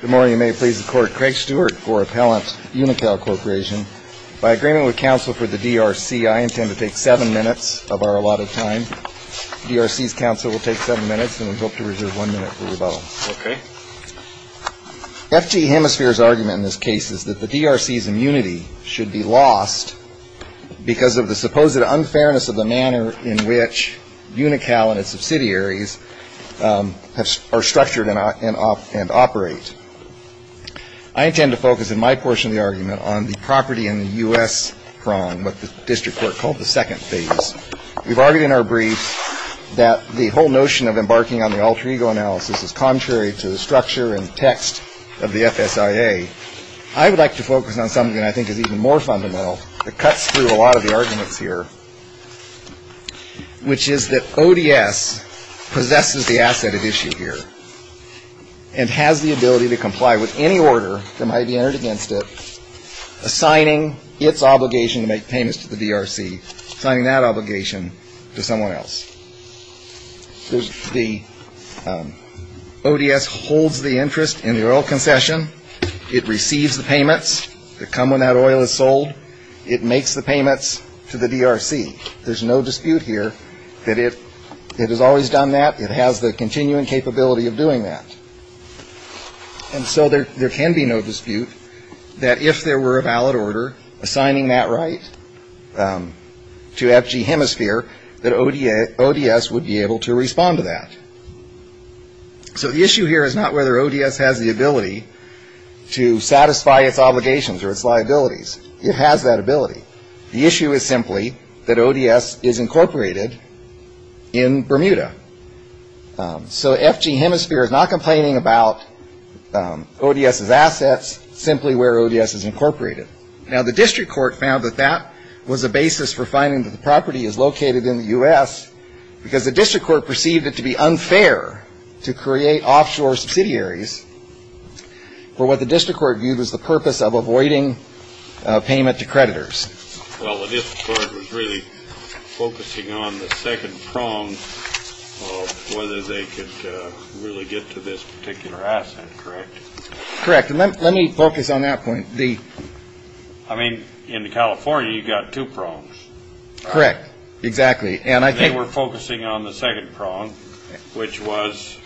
Good morning. May it please the court. Craig Stewart for Appellant Unocal Corporation. By agreement with counsel for the DRC, I intend to take seven minutes of our allotted time. DRC's counsel will take seven minutes and we hope to reserve one minute for rebuttal. FG Hemisphere's argument in this case is that the DRC's immunity should be lost because of the supposed unfairness of the manner in which Unocal and its subsidiaries are structured and operate. I intend to focus in my portion of the argument on the property in the U.S. prong, what the district court called the second phase. We've argued in our briefs that the whole notion of embarking on the alter ego analysis is contrary to the structure and text of the FSIA. I would like to focus on something that I think is even more fundamental that cuts through a lot of the arguments here, which is that ODS possesses the asset at issue here and has the ability to comply with any order that might be entered against it, assigning its obligation to make payments to the DRC, assigning that obligation to someone else. The ODS holds the interest in the oil concession. It receives the payments that come when that oil is sold. It makes the payments to the DRC. There's no dispute here that it has always done that. It has the continuing capability of doing that. And so there can be no dispute that if there were a valid order assigning that right to FG Hemisphere, that ODS would be able to respond to that. So the issue here is not whether ODS has the ability to satisfy its obligations or its liabilities. It has that ability. The issue is simply that ODS is incorporated in Bermuda. So FG Hemisphere is not complaining about ODS's assets, simply where ODS is incorporated. Now, the district court found that that was a basis for finding that the property is located in the U.S. because the district court perceived it to be unfair to create offshore subsidiaries for what the district court viewed as the purpose of avoiding payment to creditors. Well, the district court was really focusing on the second prong of whether they could really get to this particular asset, correct? Correct. And let me focus on that point. I mean, in California, you've got two prongs. Correct. Exactly. And I think They were focusing on the second prong, which was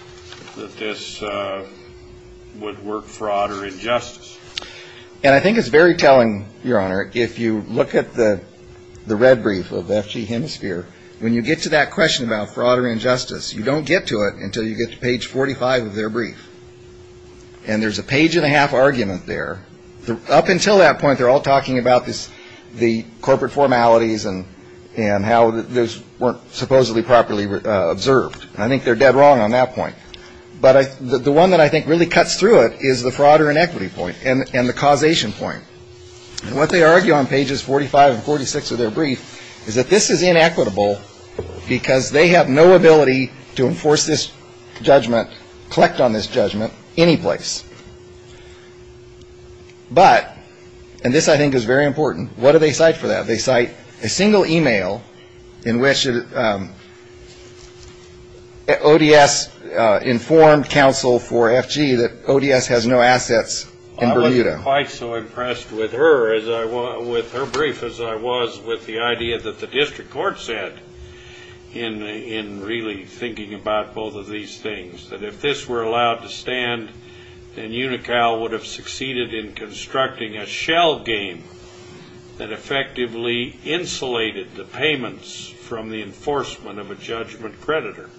that this would work for odd or injustice. And I think it's very telling, Your Honor, if you look at the red brief of FG Hemisphere, when you get to that question about fraud or injustice, you don't get to it until you get to page 45 of their brief. And there's a page and a half argument there. Up until that point, they're all talking about the corporate formalities and how those weren't supposedly properly observed. I think they're dead wrong on that point. But the one that I think really cuts through it is the fraud or inequity point and the causation point. And what they argue on pages 45 and 46 of their brief is that this is inequitable because they have no ability to enforce this judgment, collect on this judgment, any place. But, and this I think is very important, what do they cite for that? They cite a single email in which ODS informed counsel for FG that ODS has no assets in Bermuda. I was quite so impressed with her brief as I was with the idea that the district court said in really thinking about both of these things, that if this were allowed to stand, then UNICAL would have succeeded in constructing a shell game that effectively insulated the payments from the enforcement of a judgment creditor.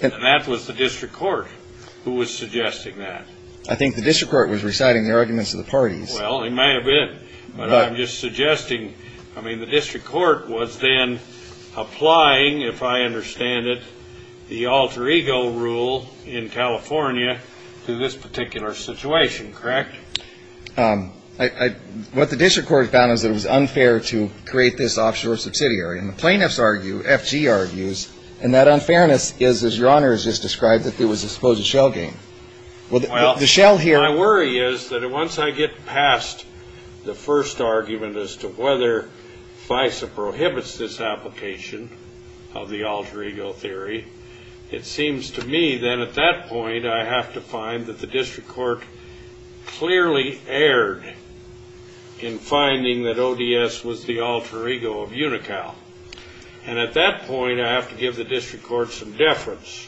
And that was the district court who was suggesting that. I think the district court was reciting the arguments of the parties. Well, it might have been. But I'm just suggesting, I mean, the district court was then applying, if I understand it, the alter ego rule in California to this particular situation, correct? What the district court found is that it was unfair to create this offshore subsidiary. And the plaintiffs argue, FG argues, and that unfairness is, as your Honor has just described, that there was a supposed shell game. Well, my worry is that once I get past the first argument as to whether FISA prohibits this application, of the alter ego theory, it seems to me then at that point I have to find that the district court clearly erred in finding that ODS was the alter ego of UNICAL. And at that point I have to give the district court some deference.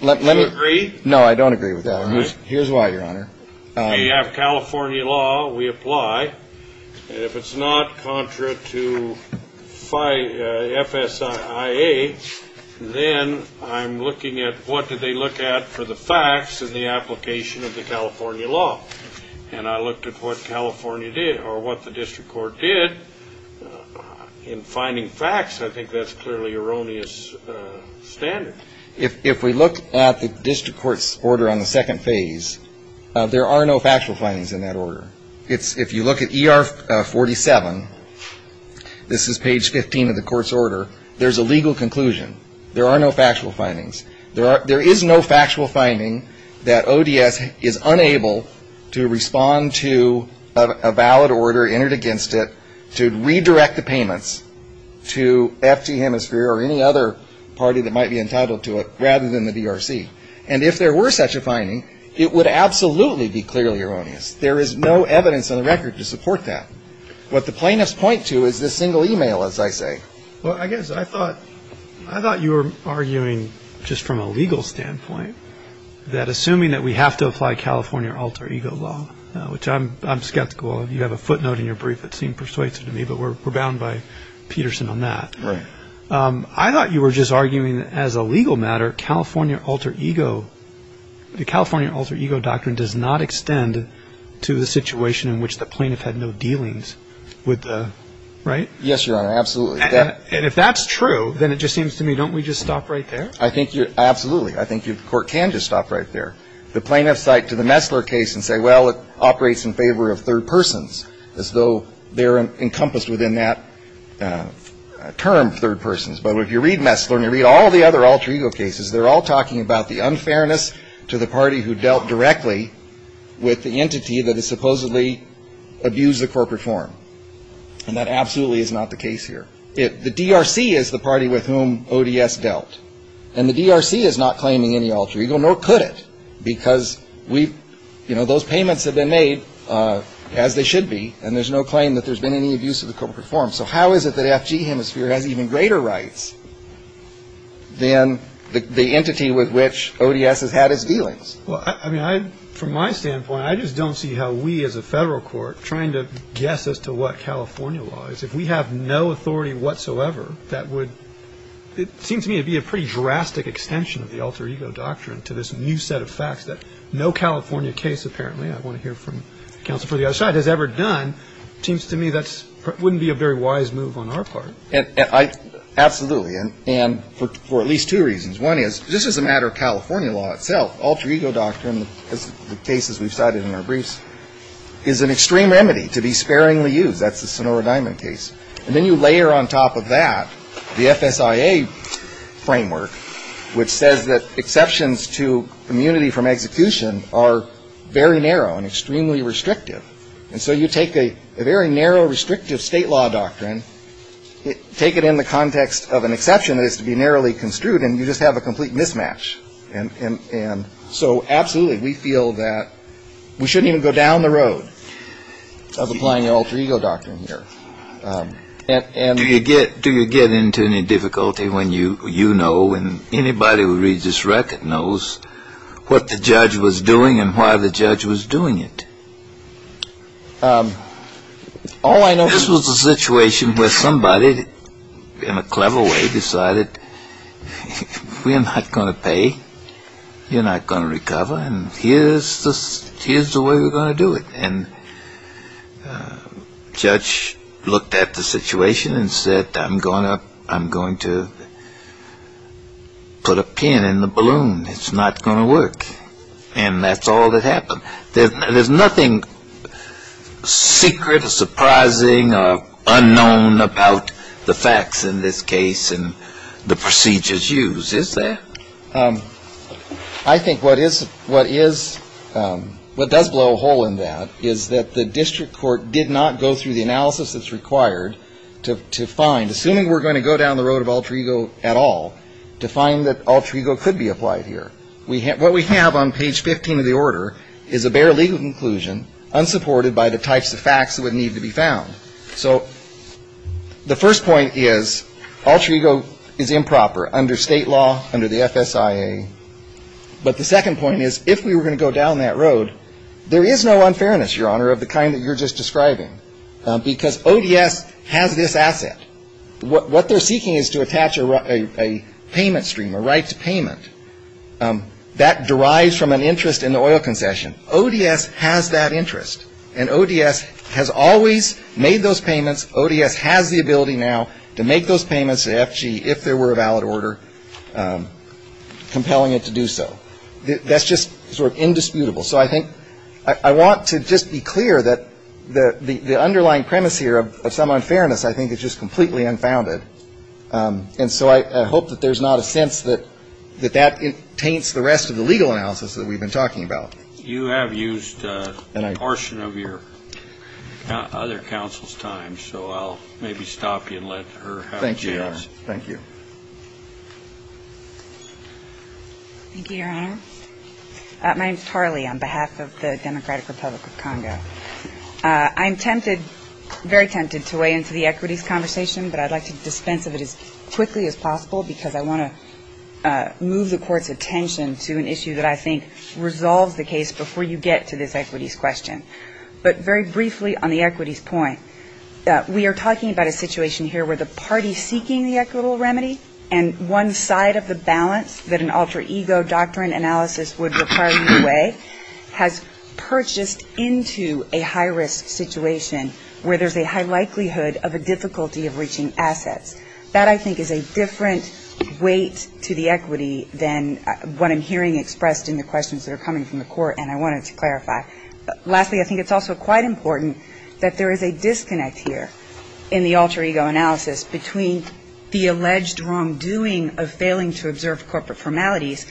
Do you agree? No, I don't agree with that. Here's why, your Honor. We have California law. We apply. And if it's not contra to FSIA, then I'm looking at what did they look at for the facts in the application of the California law. And I looked at what California did, or what the district court did in finding facts. I think that's clearly erroneous standard. If we look at the district court's order on the second phase, there are no factual findings in that order. If you look at ER 47, this is page 15 of the court's order, there's a legal conclusion. There are no factual findings. There is no factual finding that ODS is unable to respond to a valid order entered against it to redirect the payments to FT Hemisphere or any other party that might be entitled to it rather than the DRC. And if there were such a finding, it would absolutely be clearly erroneous. There is no evidence on the record to support that. What the plaintiffs point to is this single email, as I say. Well, I guess I thought you were arguing just from a legal standpoint that assuming that we have to apply California alter ego law, which I'm skeptical of, you have a footnote in your brief that seemed persuasive to me, but we're bound by Peterson on that. Right. I thought you were just arguing that as a legal matter, California alter ego, the California alter ego doctrine does not extend to the situation in which the plaintiff had no dealings with the, right? Yes, Your Honor, absolutely. And if that's true, then it just seems to me, don't we just stop right there? I think you, absolutely, I think the court can just stop right there. The plaintiffs cite to the Messler case and say, well, it operates in favor of third persons, as though they're encompassed within that term, third persons. But if you read Messler and you read all the other alter ego cases, they're all talking about the unfairness to the party who dealt directly with the entity that has supposedly abused the corporate forum. And that absolutely is not the case here. The DRC is the party with whom ODS dealt. And the DRC is not claiming any alter ego, nor could it, because those payments have been made, as they should be, and there's no claim that there's been any abuse of the corporate forum. So how is it that FG Hemisphere has even greater rights than the entity with which ODS has had its dealings? Well, I mean, from my standpoint, I just don't see how we as a federal court, trying to guess as to what California law is. If we have no authority whatsoever, that would, it seems to me to be a pretty drastic extension of the alter ego doctrine to this new set of facts that no California case, apparently, I want to hear from counsel for the other side, has ever done. It seems to me that wouldn't be a very wise move on our part. Absolutely. And for at least two reasons. One is, this is a matter of California law itself. Alter ego doctrine, as the cases we've cited in our briefs, is an extreme remedy to be sparingly used. That's the Sonora Diamond case. And then you layer on top of that the FSIA framework, which says that exceptions to immunity from execution are very narrow and extremely restrictive. And so you take a very narrow, restrictive state law doctrine, take it in the context of an exception that is to be narrowly construed, and you just have a complete mismatch. So absolutely, we feel that we shouldn't even go down the road of applying the alter ego doctrine here. Do you get into any difficulty when you know, and anybody who reads this record knows, what the judge was doing and why the judge was doing it? This was a situation where somebody, in a clever way, decided, we're not going to pay, you're not going to recover, and here's the way we're going to do it. And the judge looked at the situation and said, I'm going to put a pin in the balloon. It's not going to work. And that's all that happened. There's nothing secret or surprising or unknown about the facts in this case. And the procedures used, is there? I think what is, what does blow a hole in that, is that the district court did not go through the analysis that's required to find, assuming we're going to go down the road of alter ego at all, to find that alter ego could be applied here. What we have on page 15 of the order is a bare legal conclusion, unsupported by the types of facts that would need to be found. So the first point is, alter ego is improper under state law, under the FSIA. But the second point is, if we were going to go down that road, there is no unfairness, Your Honor, of the kind that you're just describing. Because ODS has this asset. What they're seeking is to attach a payment stream, a right to payment, that derives from an interest in the oil concession. ODS has that interest. And ODS has always made those payments. ODS has the ability now to make those payments to FG if there were a valid order, compelling it to do so. That's just sort of indisputable. So I think I want to just be clear that the underlying premise here of some unfairness, I think, is just completely unfounded. And so I hope that there's not a sense that that taints the rest of the legal analysis that we've been talking about. You have used a portion of your other counsel's time. So I'll maybe stop you and let her have a chance. Thank you, Your Honor. Thank you. Thank you, Your Honor. My name is Tarly on behalf of the Democratic Republic of Congo. I'm tempted, very tempted, to weigh into the equities conversation. But I'd like to dispense of it as quickly as possible because I want to move the Court's case before you get to this equities question. But very briefly on the equities point, we are talking about a situation here where the party seeking the equitable remedy and one side of the balance that an alter ego doctrine analysis would require you to weigh, has purchased into a high-risk situation where there's a high likelihood of a difficulty of reaching assets. That, I think, is a different weight to the equity than what I'm hearing expressed in the questions that are coming from the Court, and I wanted to clarify. Lastly, I think it's also quite important that there is a disconnect here in the alter ego analysis between the alleged wrongdoing of failing to observe corporate formalities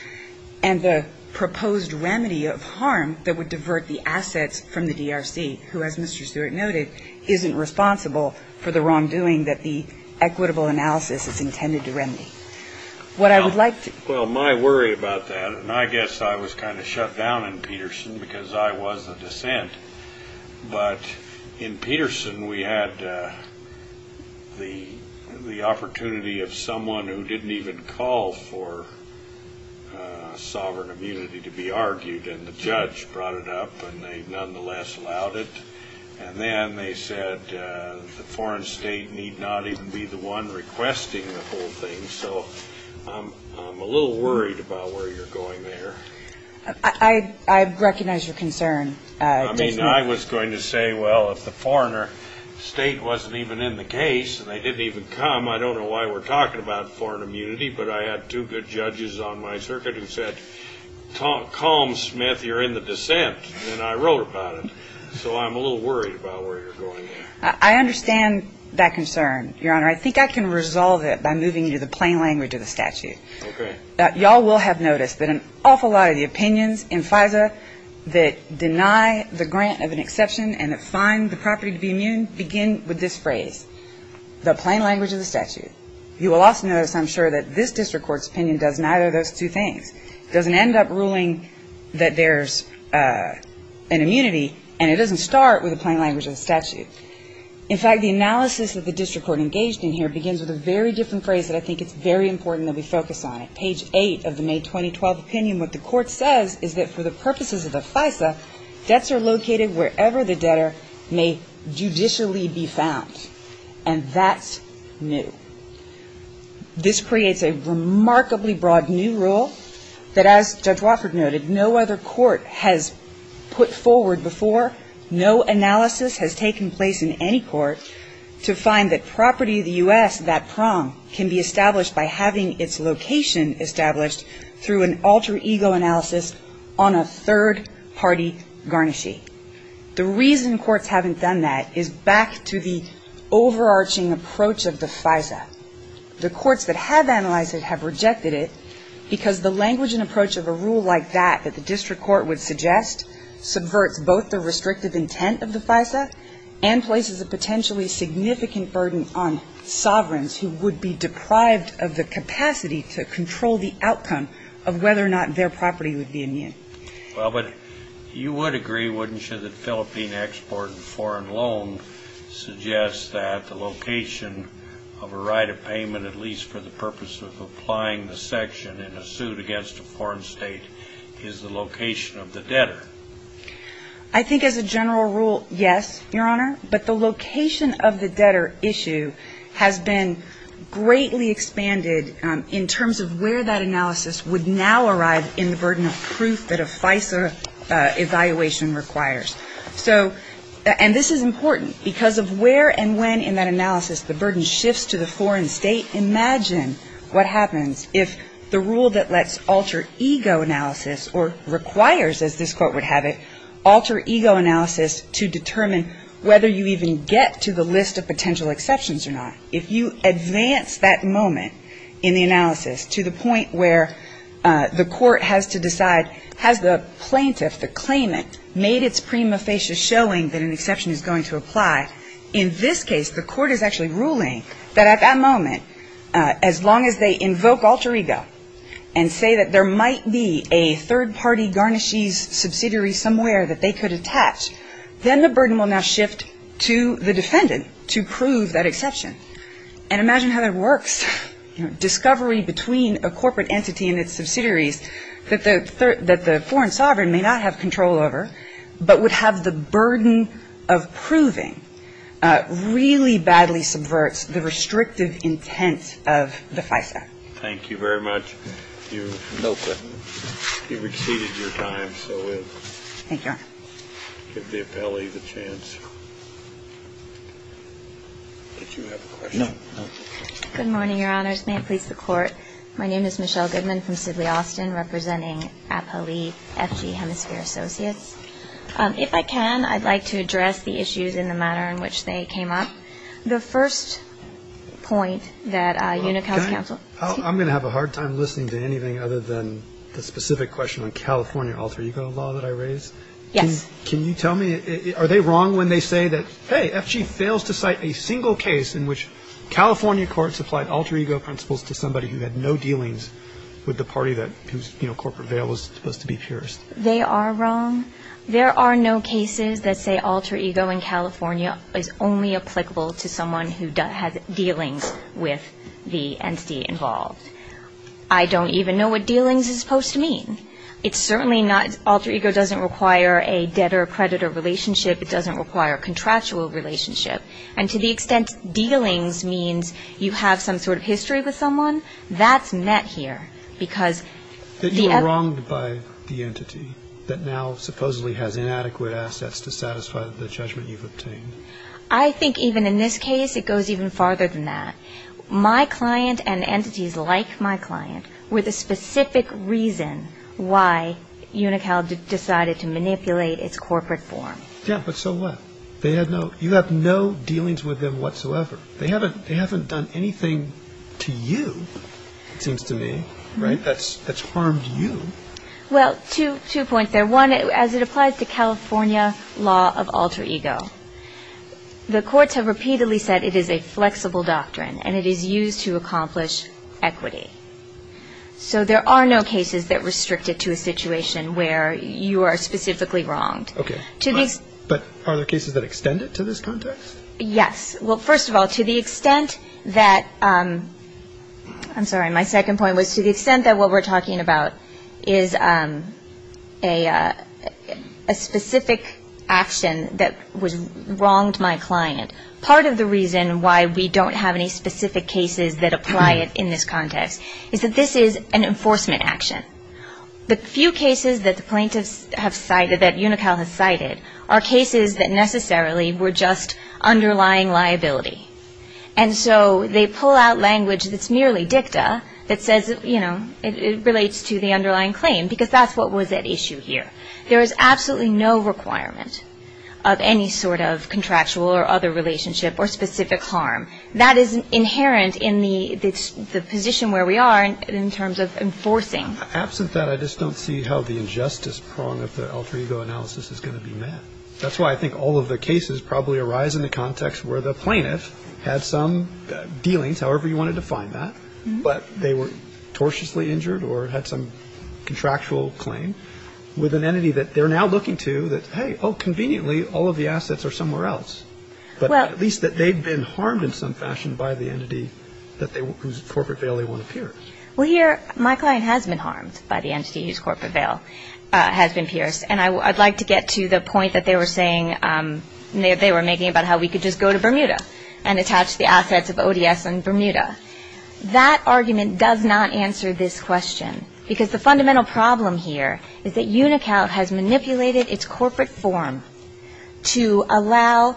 and the proposed remedy of harm that would divert the assets from the DRC, who, as Mr. Stewart noted, isn't responsible for the wrongdoing that the equitable analysis is intended to remedy. What I would like to ---- I was shut down in Peterson because I was a dissent, but in Peterson we had the opportunity of someone who didn't even call for sovereign immunity to be argued, and the judge brought it up and they nonetheless allowed it, and then they said the foreign state need not even be the one requesting the whole thing, so I'm a little worried about where you're going there. I recognize your concern. I mean, I was going to say, well, if the foreign state wasn't even in the case and they didn't even come, I don't know why we're talking about foreign immunity, but I had two good judges on my circuit who said, calm, Smith, you're in the dissent, and I wrote about it, so I'm a little worried about where you're going there. I understand that concern, Your Honor. I think I can resolve it by moving you to the plain language of the statute. Okay. Y'all will have noticed that an awful lot of the opinions in FISA that deny the grant of an exception and that find the property to be immune begin with this phrase, the plain language of the statute. You will also notice, I'm sure, that this district court's opinion does neither of those two things. It doesn't end up ruling that there's an immunity, and it doesn't start with the plain language of the statute. In fact, the analysis that the district court engaged in here begins with a very different phrase that I think it's very important that we focus on it. Page 8 of the May 2012 opinion, what the court says is that for the purposes of the FISA, debts are located wherever the debtor may judicially be found, and that's new. This creates a remarkably broad new rule that, as Judge Wofford noted, no other court has put forward before. No analysis has taken place in any court to find that property of the U.S., that prong, can be established by having its location established through an alter ego analysis on a third-party garnishee. The reason courts haven't done that is back to the overarching approach of the FISA. The courts that have analyzed it have rejected it because the language and approach of a rule like that that the district court would suggest subverts both the restrictive intent of the FISA and places a potentially significant burden on sovereigns who would be deprived of the capacity to control the outcome of whether or not their property would be immune. Well, but you would agree, wouldn't you, that Philippine export and foreign loan suggests that the location of a right of payment, at least for the purpose of applying the section in a suit against a foreign state, is the location of the debtor? I think as a general rule, yes, Your Honor. But the location of the debtor issue has been greatly expanded in terms of where that analysis would now arrive in the burden of proof that a FISA evaluation requires. So, and this is important, because of where and when in that analysis the burden shifts to the foreign state, imagine what happens if the rule that lets alter ego analysis or requires, as this court would have it, alter ego analysis to determine whether you even get to the list of potential exceptions or not. If you advance that moment in the analysis to the point where the court has to decide, has the plaintiff, the claimant, made its prima facie showing that an exception is going to apply, in this case the court is actually ruling that at that moment, as long as they invoke alter ego and say that there might be a third-party garnishes subsidiary somewhere that they could attach, then the burden will now shift to the defendant to prove that exception. And imagine how that works. Discovery between a corporate entity and its subsidiaries that the foreign sovereign may not have control over, but would have the burden of proving, really badly subverts the restrictive intent of the FISA. Thank you very much. You've exceeded your time, so we'll give the appellee the chance. Did you have a question? No. May it please the Court. My name is Michelle Goodman from Sidley, Austin, representing appellee FG Hemisphere Associates. If I can, I'd like to address the issues in the manner in which they came up. The first point that Unical's counsel I'm going to have a hard time listening to anything other than the specific question on California alter ego law that I raised. Yes. Can you tell me, are they wrong when they say that, hey, FG fails to cite a single case in which California courts applied alter ego principles to somebody who had no dealings with the party whose corporate veil was supposed to be pierced? They are wrong. There are no cases that say alter ego in California is only applicable to someone who has dealings with the entity involved. I don't even know what dealings is supposed to mean. It's certainly not Alter ego doesn't require a debtor-predator relationship. It doesn't require a contractual relationship. And to the extent dealings means you have some sort of history with someone, that's met here. Because the You are wronged by the entity that now supposedly has inadequate assets to satisfy the judgment you've obtained. I think even in this case it goes even farther than that. My client and entities like my client were the specific reason why Unical decided to manipulate its corporate form. Yeah, but so what? You have no dealings with them whatsoever. They haven't done anything to you, it seems to me, that's harmed you. Well, two points there. One, as it applies to California law of alter ego, the courts have repeatedly said it is a flexible doctrine and it is used to accomplish equity. So there are no cases that restrict it to a situation where you are specifically wronged. Okay. But are there cases that extend it to this context? Yes. Well, first of all, to the extent that I'm sorry, my second point was to the extent that what we're talking about is a specific action that was wronged my client. Part of the reason why we don't have any specific cases that apply it in this context is that this is an enforcement action. The few cases that the plaintiffs have cited, that Unical has cited, are cases that necessarily were just underlying liability. And so they pull out language that's merely dicta that says, you know, it relates to the underlying claim, because that's what was at issue here. There is absolutely no requirement of any sort of contractual or other relationship or specific harm. That is inherent in the position where we are in terms of enforcing. Absent that, I just don't see how the injustice prong of the alter ego analysis is going to be met. That's why I think all of the cases probably arise in the context where the plaintiff had some dealings, however you want to define that, but they were tortiously injured or had some contractual claim with an entity that they're now looking to that, hey, oh, conveniently, all of the assets are somewhere else. But at least that they've been harmed in some fashion by the entity whose corporate veil they want to pierce. Well, here, my client has been harmed by the entity whose corporate veil has been pierced. And I'd like to get to the point that they were saying, they were making about how we could just go to Bermuda and attach the assets of ODS in Bermuda. That argument does not answer this question, because the fundamental problem here is that UNICAL has manipulated its corporate form to allow,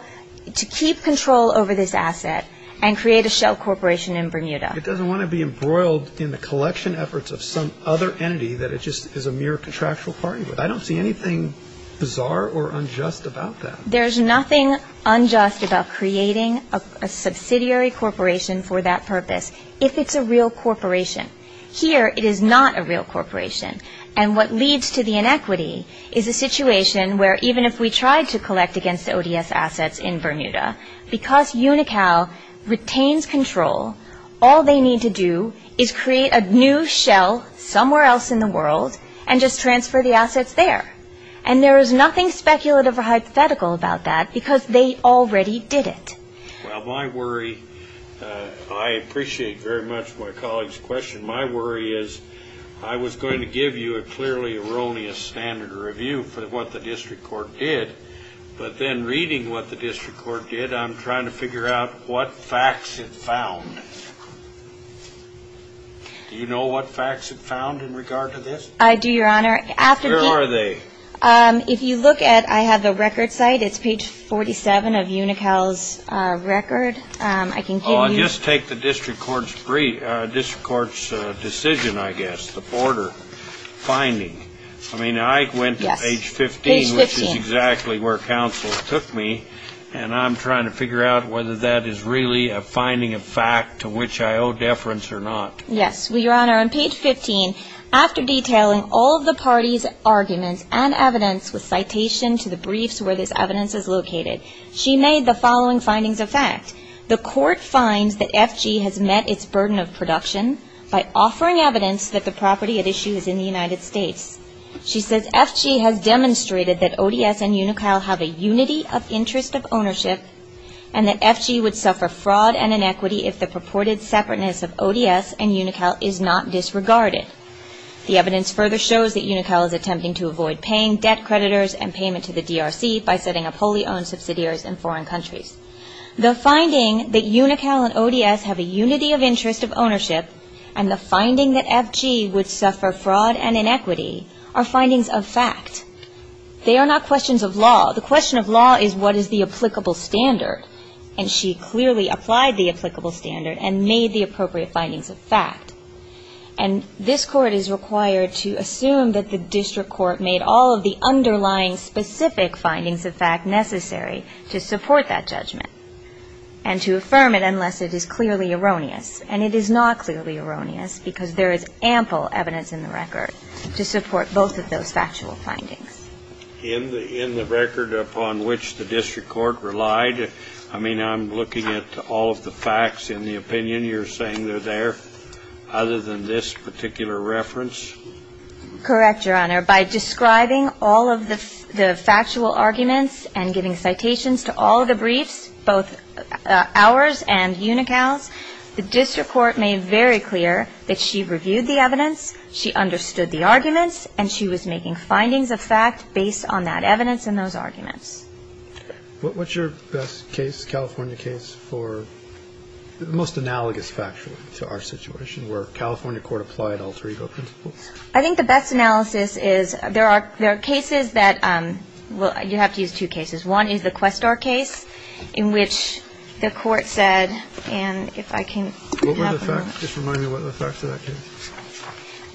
to keep control over this asset and create a shell corporation in Bermuda. It doesn't want to be embroiled in the collection efforts of some other entity that it just is a mere contractual party with. I don't see anything bizarre or unjust about that. There's nothing unjust about creating a subsidiary corporation for that purpose if it's a real corporation. Here, it is not a real corporation. And what leads to the inequity is a situation where even if we tried to collect against the ODS assets in Bermuda, because UNICAL retains control, all they need to do is create a new shell somewhere else in the world and just transfer the assets there. And there is nothing speculative or hypothetical about that, because they already did it. Well, my worry, I appreciate very much my colleague's question. My worry is I was going to give you a clearly erroneous standard review for what the district court did, but then reading what the district court did, I'm trying to figure out what facts it found. Do you know what facts it found in regard to this? I do, Your Honor. Where are they? If you look at, I have the record site. It's page 47 of UNICAL's record. I can give you. Just take the district court's decision, I guess, the border finding. I mean, I went to page 15, which is exactly where counsel took me, and I'm trying to figure out whether that is really a finding of fact to which I owe deference or not. Yes, Your Honor. On page 15, after detailing all of the parties' arguments and evidence with citation to the briefs where this evidence is located, she made the following findings of fact. The court finds that FG has met its burden of production by offering evidence that the property at issue is in the United States. She says FG has demonstrated that ODS and UNICAL have a unity of interest of ownership and that FG would suffer fraud and inequity if the purported separateness of ODS and UNICAL is not disregarded. The evidence further shows that UNICAL is attempting to avoid paying debt creditors and payment to the DRC by setting up wholly owned subsidiaries in foreign countries. The finding that UNICAL and ODS have a unity of interest of ownership and the finding that FG would suffer fraud and inequity are findings of fact. They are not questions of law. The question of law is what is the applicable standard. And she clearly applied the applicable standard and made the appropriate findings of fact. And this Court is required to assume that the district court made all of the underlying specific findings of fact necessary to support that judgment and to affirm it unless it is clearly erroneous. And it is not clearly erroneous because there is ample evidence in the record to support both of those factual findings. In the record upon which the district court relied, I mean, I'm looking at all of the facts in the opinion. You're saying they're there other than this particular reference? Correct, Your Honor. By describing all of the factual arguments and giving citations to all of the briefs, both ours and UNICAL's, the district court made very clear that she reviewed the evidence, she understood the arguments, and she was making findings of fact based on that evidence and those arguments. What's your best case, California case, for the most analogous factual to our situation where California court applied alter ego principles? I think the best analysis is there are cases that, well, you have to use two cases. One is the Questar case in which the court said, and if I can have a moment. What were the facts? Just remind me what were the facts of that case.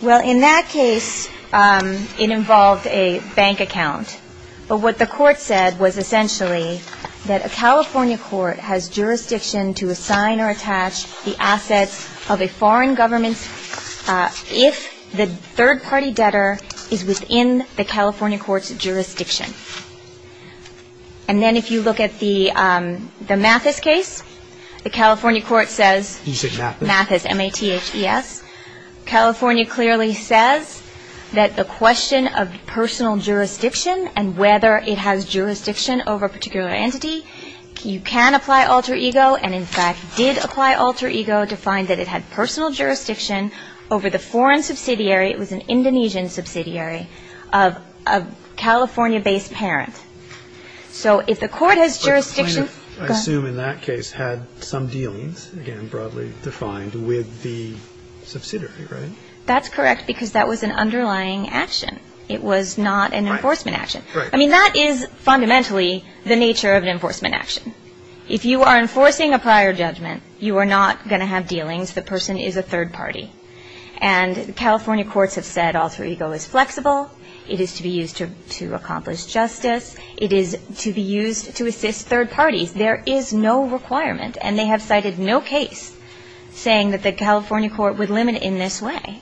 Well, in that case, it involved a bank account. But what the court said was essentially that a California court has jurisdiction to assign or attach the assets of a foreign government if the third-party debtor is within the California court's jurisdiction. And then if you look at the Mathis case, the California court says. You said Mathis. Mathis, M-A-T-H-E-S. California clearly says that the question of personal jurisdiction and whether it has jurisdiction over a particular entity, you can apply alter ego, and in fact did apply alter ego to find that it had personal jurisdiction over the foreign subsidiary. It was an Indonesian subsidiary of a California-based parent. So if the court has jurisdiction. I assume in that case had some dealings, again, broadly defined with the subsidiary, right? That's correct because that was an underlying action. It was not an enforcement action. I mean, that is fundamentally the nature of an enforcement action. If you are enforcing a prior judgment, you are not going to have dealings. The person is a third party. And California courts have said alter ego is flexible. It is to be used to accomplish justice. It is to be used to assist third parties. There is no requirement. And they have cited no case saying that the California court would limit in this way.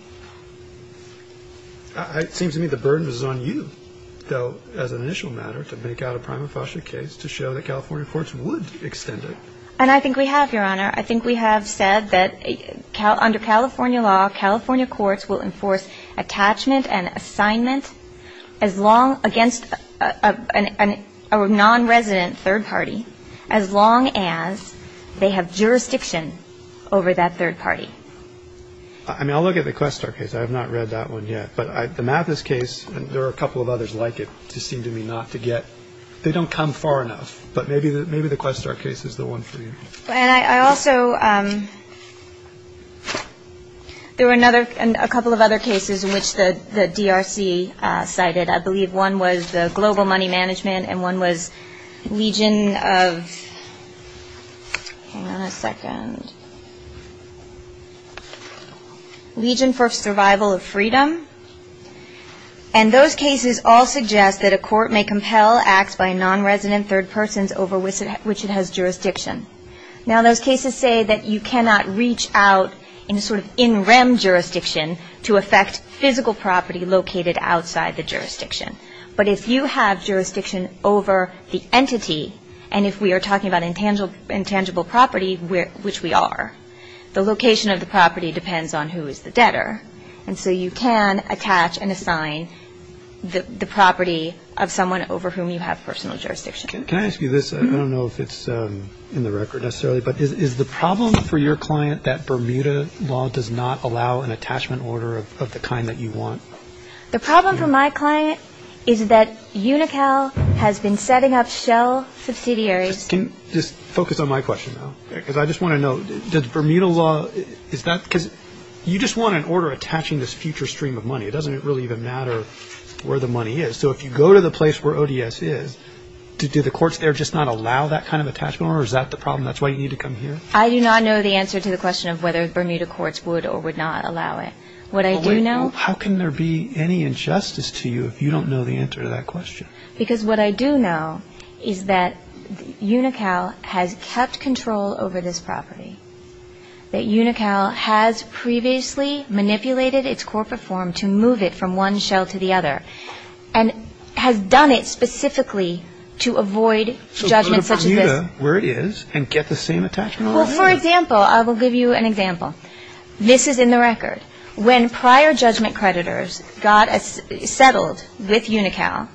It seems to me the burden is on you, though, as an initial matter, to make out a prima facie case to show that California courts would extend it. And I think we have, Your Honor. I think we have said that under California law, California courts will enforce attachment and assignment as long against a nonresident third party as long as they have jurisdiction over that third party. I mean, I'll look at the Questar case. I have not read that one yet. But the Mathis case, there are a couple of others like it. It just seemed to me not to get they don't come far enough. But maybe the Questar case is the one for you. And I also, there were a couple of other cases in which the DRC cited. I believe one was the global money management and one was legion of, hang on a second, legion for survival of freedom. And those cases all suggest that a court may compel acts by nonresident third persons over which it has jurisdiction. Now, those cases say that you cannot reach out in a sort of in rem jurisdiction to affect physical property located outside the jurisdiction. But if you have jurisdiction over the entity, and if we are talking about intangible property, which we are, the location of the property depends on who is the debtor. And so you can attach and assign the property of someone over whom you have personal jurisdiction. Can I ask you this? I don't know if it's in the record necessarily. But is the problem for your client that Bermuda law does not allow an attachment order of the kind that you want? The problem for my client is that UNICAL has been setting up shell subsidiaries. Can you just focus on my question now? Because I just want to know, does Bermuda law, is that because you just want an order attaching this future stream of money. It doesn't really even matter where the money is. So if you go to the place where ODS is, do the courts there just not allow that kind of attachment order? Is that the problem? That's why you need to come here? I do not know the answer to the question of whether Bermuda courts would or would not allow it. What I do know. How can there be any injustice to you if you don't know the answer to that question? Because what I do know is that UNICAL has kept control over this property. That UNICAL has previously manipulated its corporate form to move it from one shell to the other. And has done it specifically to avoid judgments such as this. So go to Bermuda, where it is, and get the same attachment order? Well, for example, I will give you an example. This is in the record. When prior judgment creditors got settled with UNICAL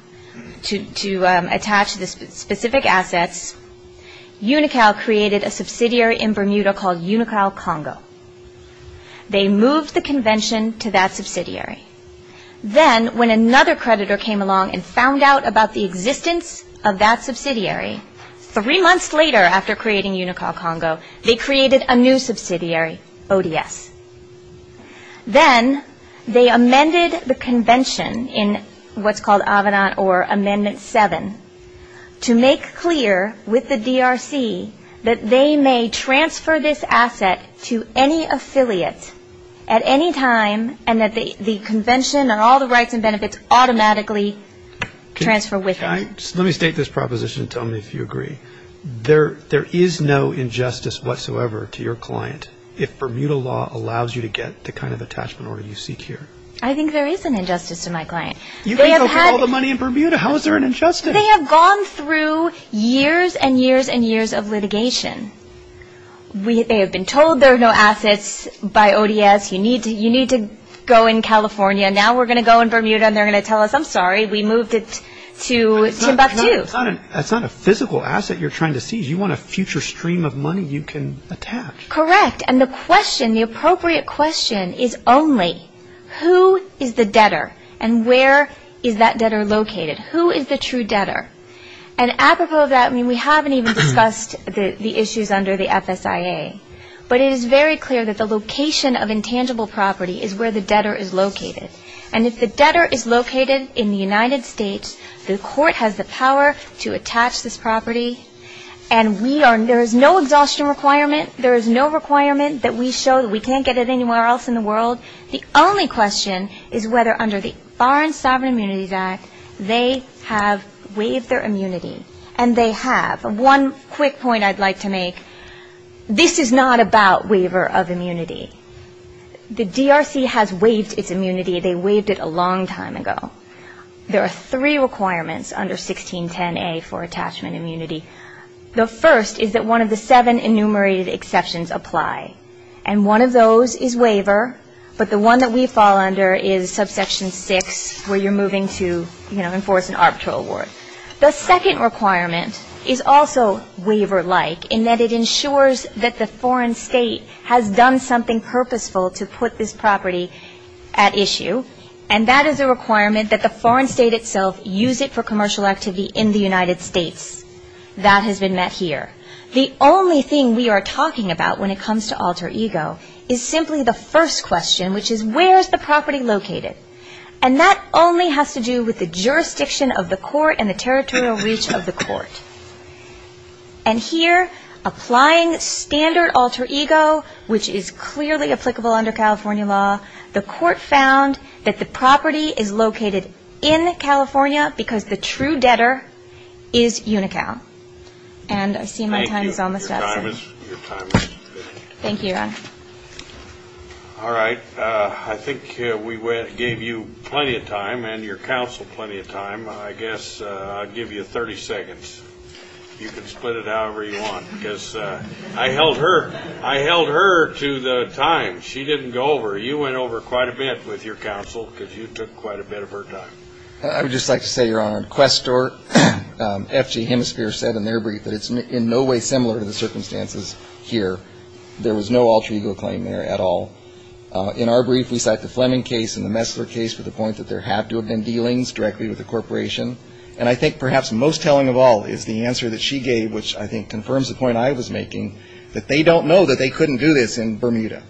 to attach the specific assets, UNICAL created a subsidiary in Bermuda called UNICAL Congo. They moved the convention to that subsidiary. Then when another creditor came along and found out about the existence of that subsidiary, three months later after creating UNICAL Congo, they created a new subsidiary, ODS. Then they amended the convention in what's called AVENANT or Amendment 7, to make clear with the DRC that they may transfer this asset to any affiliate at any time and that the convention and all the rights and benefits automatically transfer with it. Let me state this proposition. Tell me if you agree. There is no injustice whatsoever to your client if Bermuda law allows you to get the kind of attachment order you seek here. I think there is an injustice to my client. You can go for all the money in Bermuda. How is there an injustice? They have been told there are no assets by ODS. You need to go in California. Now we're going to go in Bermuda and they're going to tell us, I'm sorry, we moved it to Timbuktu. That's not a physical asset you're trying to seize. You want a future stream of money you can attach. Correct. And the question, the appropriate question is only who is the debtor and where is that debtor located? Who is the true debtor? And apropos of that, I mean, we haven't even discussed the issues under the FSIA. But it is very clear that the location of intangible property is where the debtor is located. And if the debtor is located in the United States, the court has the power to attach this property. And we are, there is no exhaustion requirement. There is no requirement that we show that we can't get it anywhere else in the world. The only question is whether under the Foreign Sovereign Immunities Act they have waived their immunity. And they have. One quick point I'd like to make, this is not about waiver of immunity. The DRC has waived its immunity. They waived it a long time ago. There are three requirements under 1610A for attachment immunity. The first is that one of the seven enumerated exceptions apply. And one of those is waiver, but the one that we fall under is subsection 6 where you're moving to, you know, enforce an arbitral award. The second requirement is also waiver-like in that it ensures that the foreign state has done something purposeful to put this property at issue. And that is a requirement that the foreign state itself use it for commercial activity in the United States. That has been met here. The only thing we are talking about when it comes to alter ego is simply the first question, which is where is the property located? And that only has to do with the jurisdiction of the court and the territorial reach of the court. And here, applying standard alter ego, which is clearly applicable under California law, the court found that the property is located in California because the true debtor is Unicow. And I see my time is almost up. Thank you. Your time is up. Thank you, Your Honor. All right. I think we gave you plenty of time and your counsel plenty of time. I guess I'll give you 30 seconds. You can split it however you want because I held her to the time. She didn't go over. You went over quite a bit with your counsel because you took quite a bit of her time. I would just like to say, Your Honor, Questor, F.G. Hemisphere said in their brief that it's in no way similar to the circumstances here. There was no alter ego claim there at all. In our brief, we cite the Fleming case and the Messler case for the point that there have to have been dealings directly with a corporation. And I think perhaps most telling of all is the answer that she gave, which I think confirms the point I was making, that they don't know that they couldn't do this in Bermuda.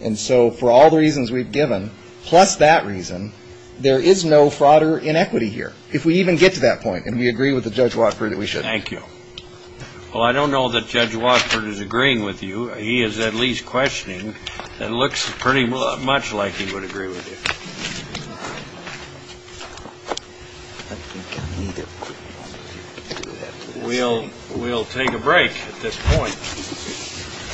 And so for all the reasons we've given, plus that reason, there is no fraud or inequity here. If we even get to that point and we agree with Judge Wattford, we should. Thank you. Well, I don't know that Judge Wattford is agreeing with you. He is at least questioning and looks pretty much like he would agree with you. I think I need a quick moment to do that. We'll take a break at this point.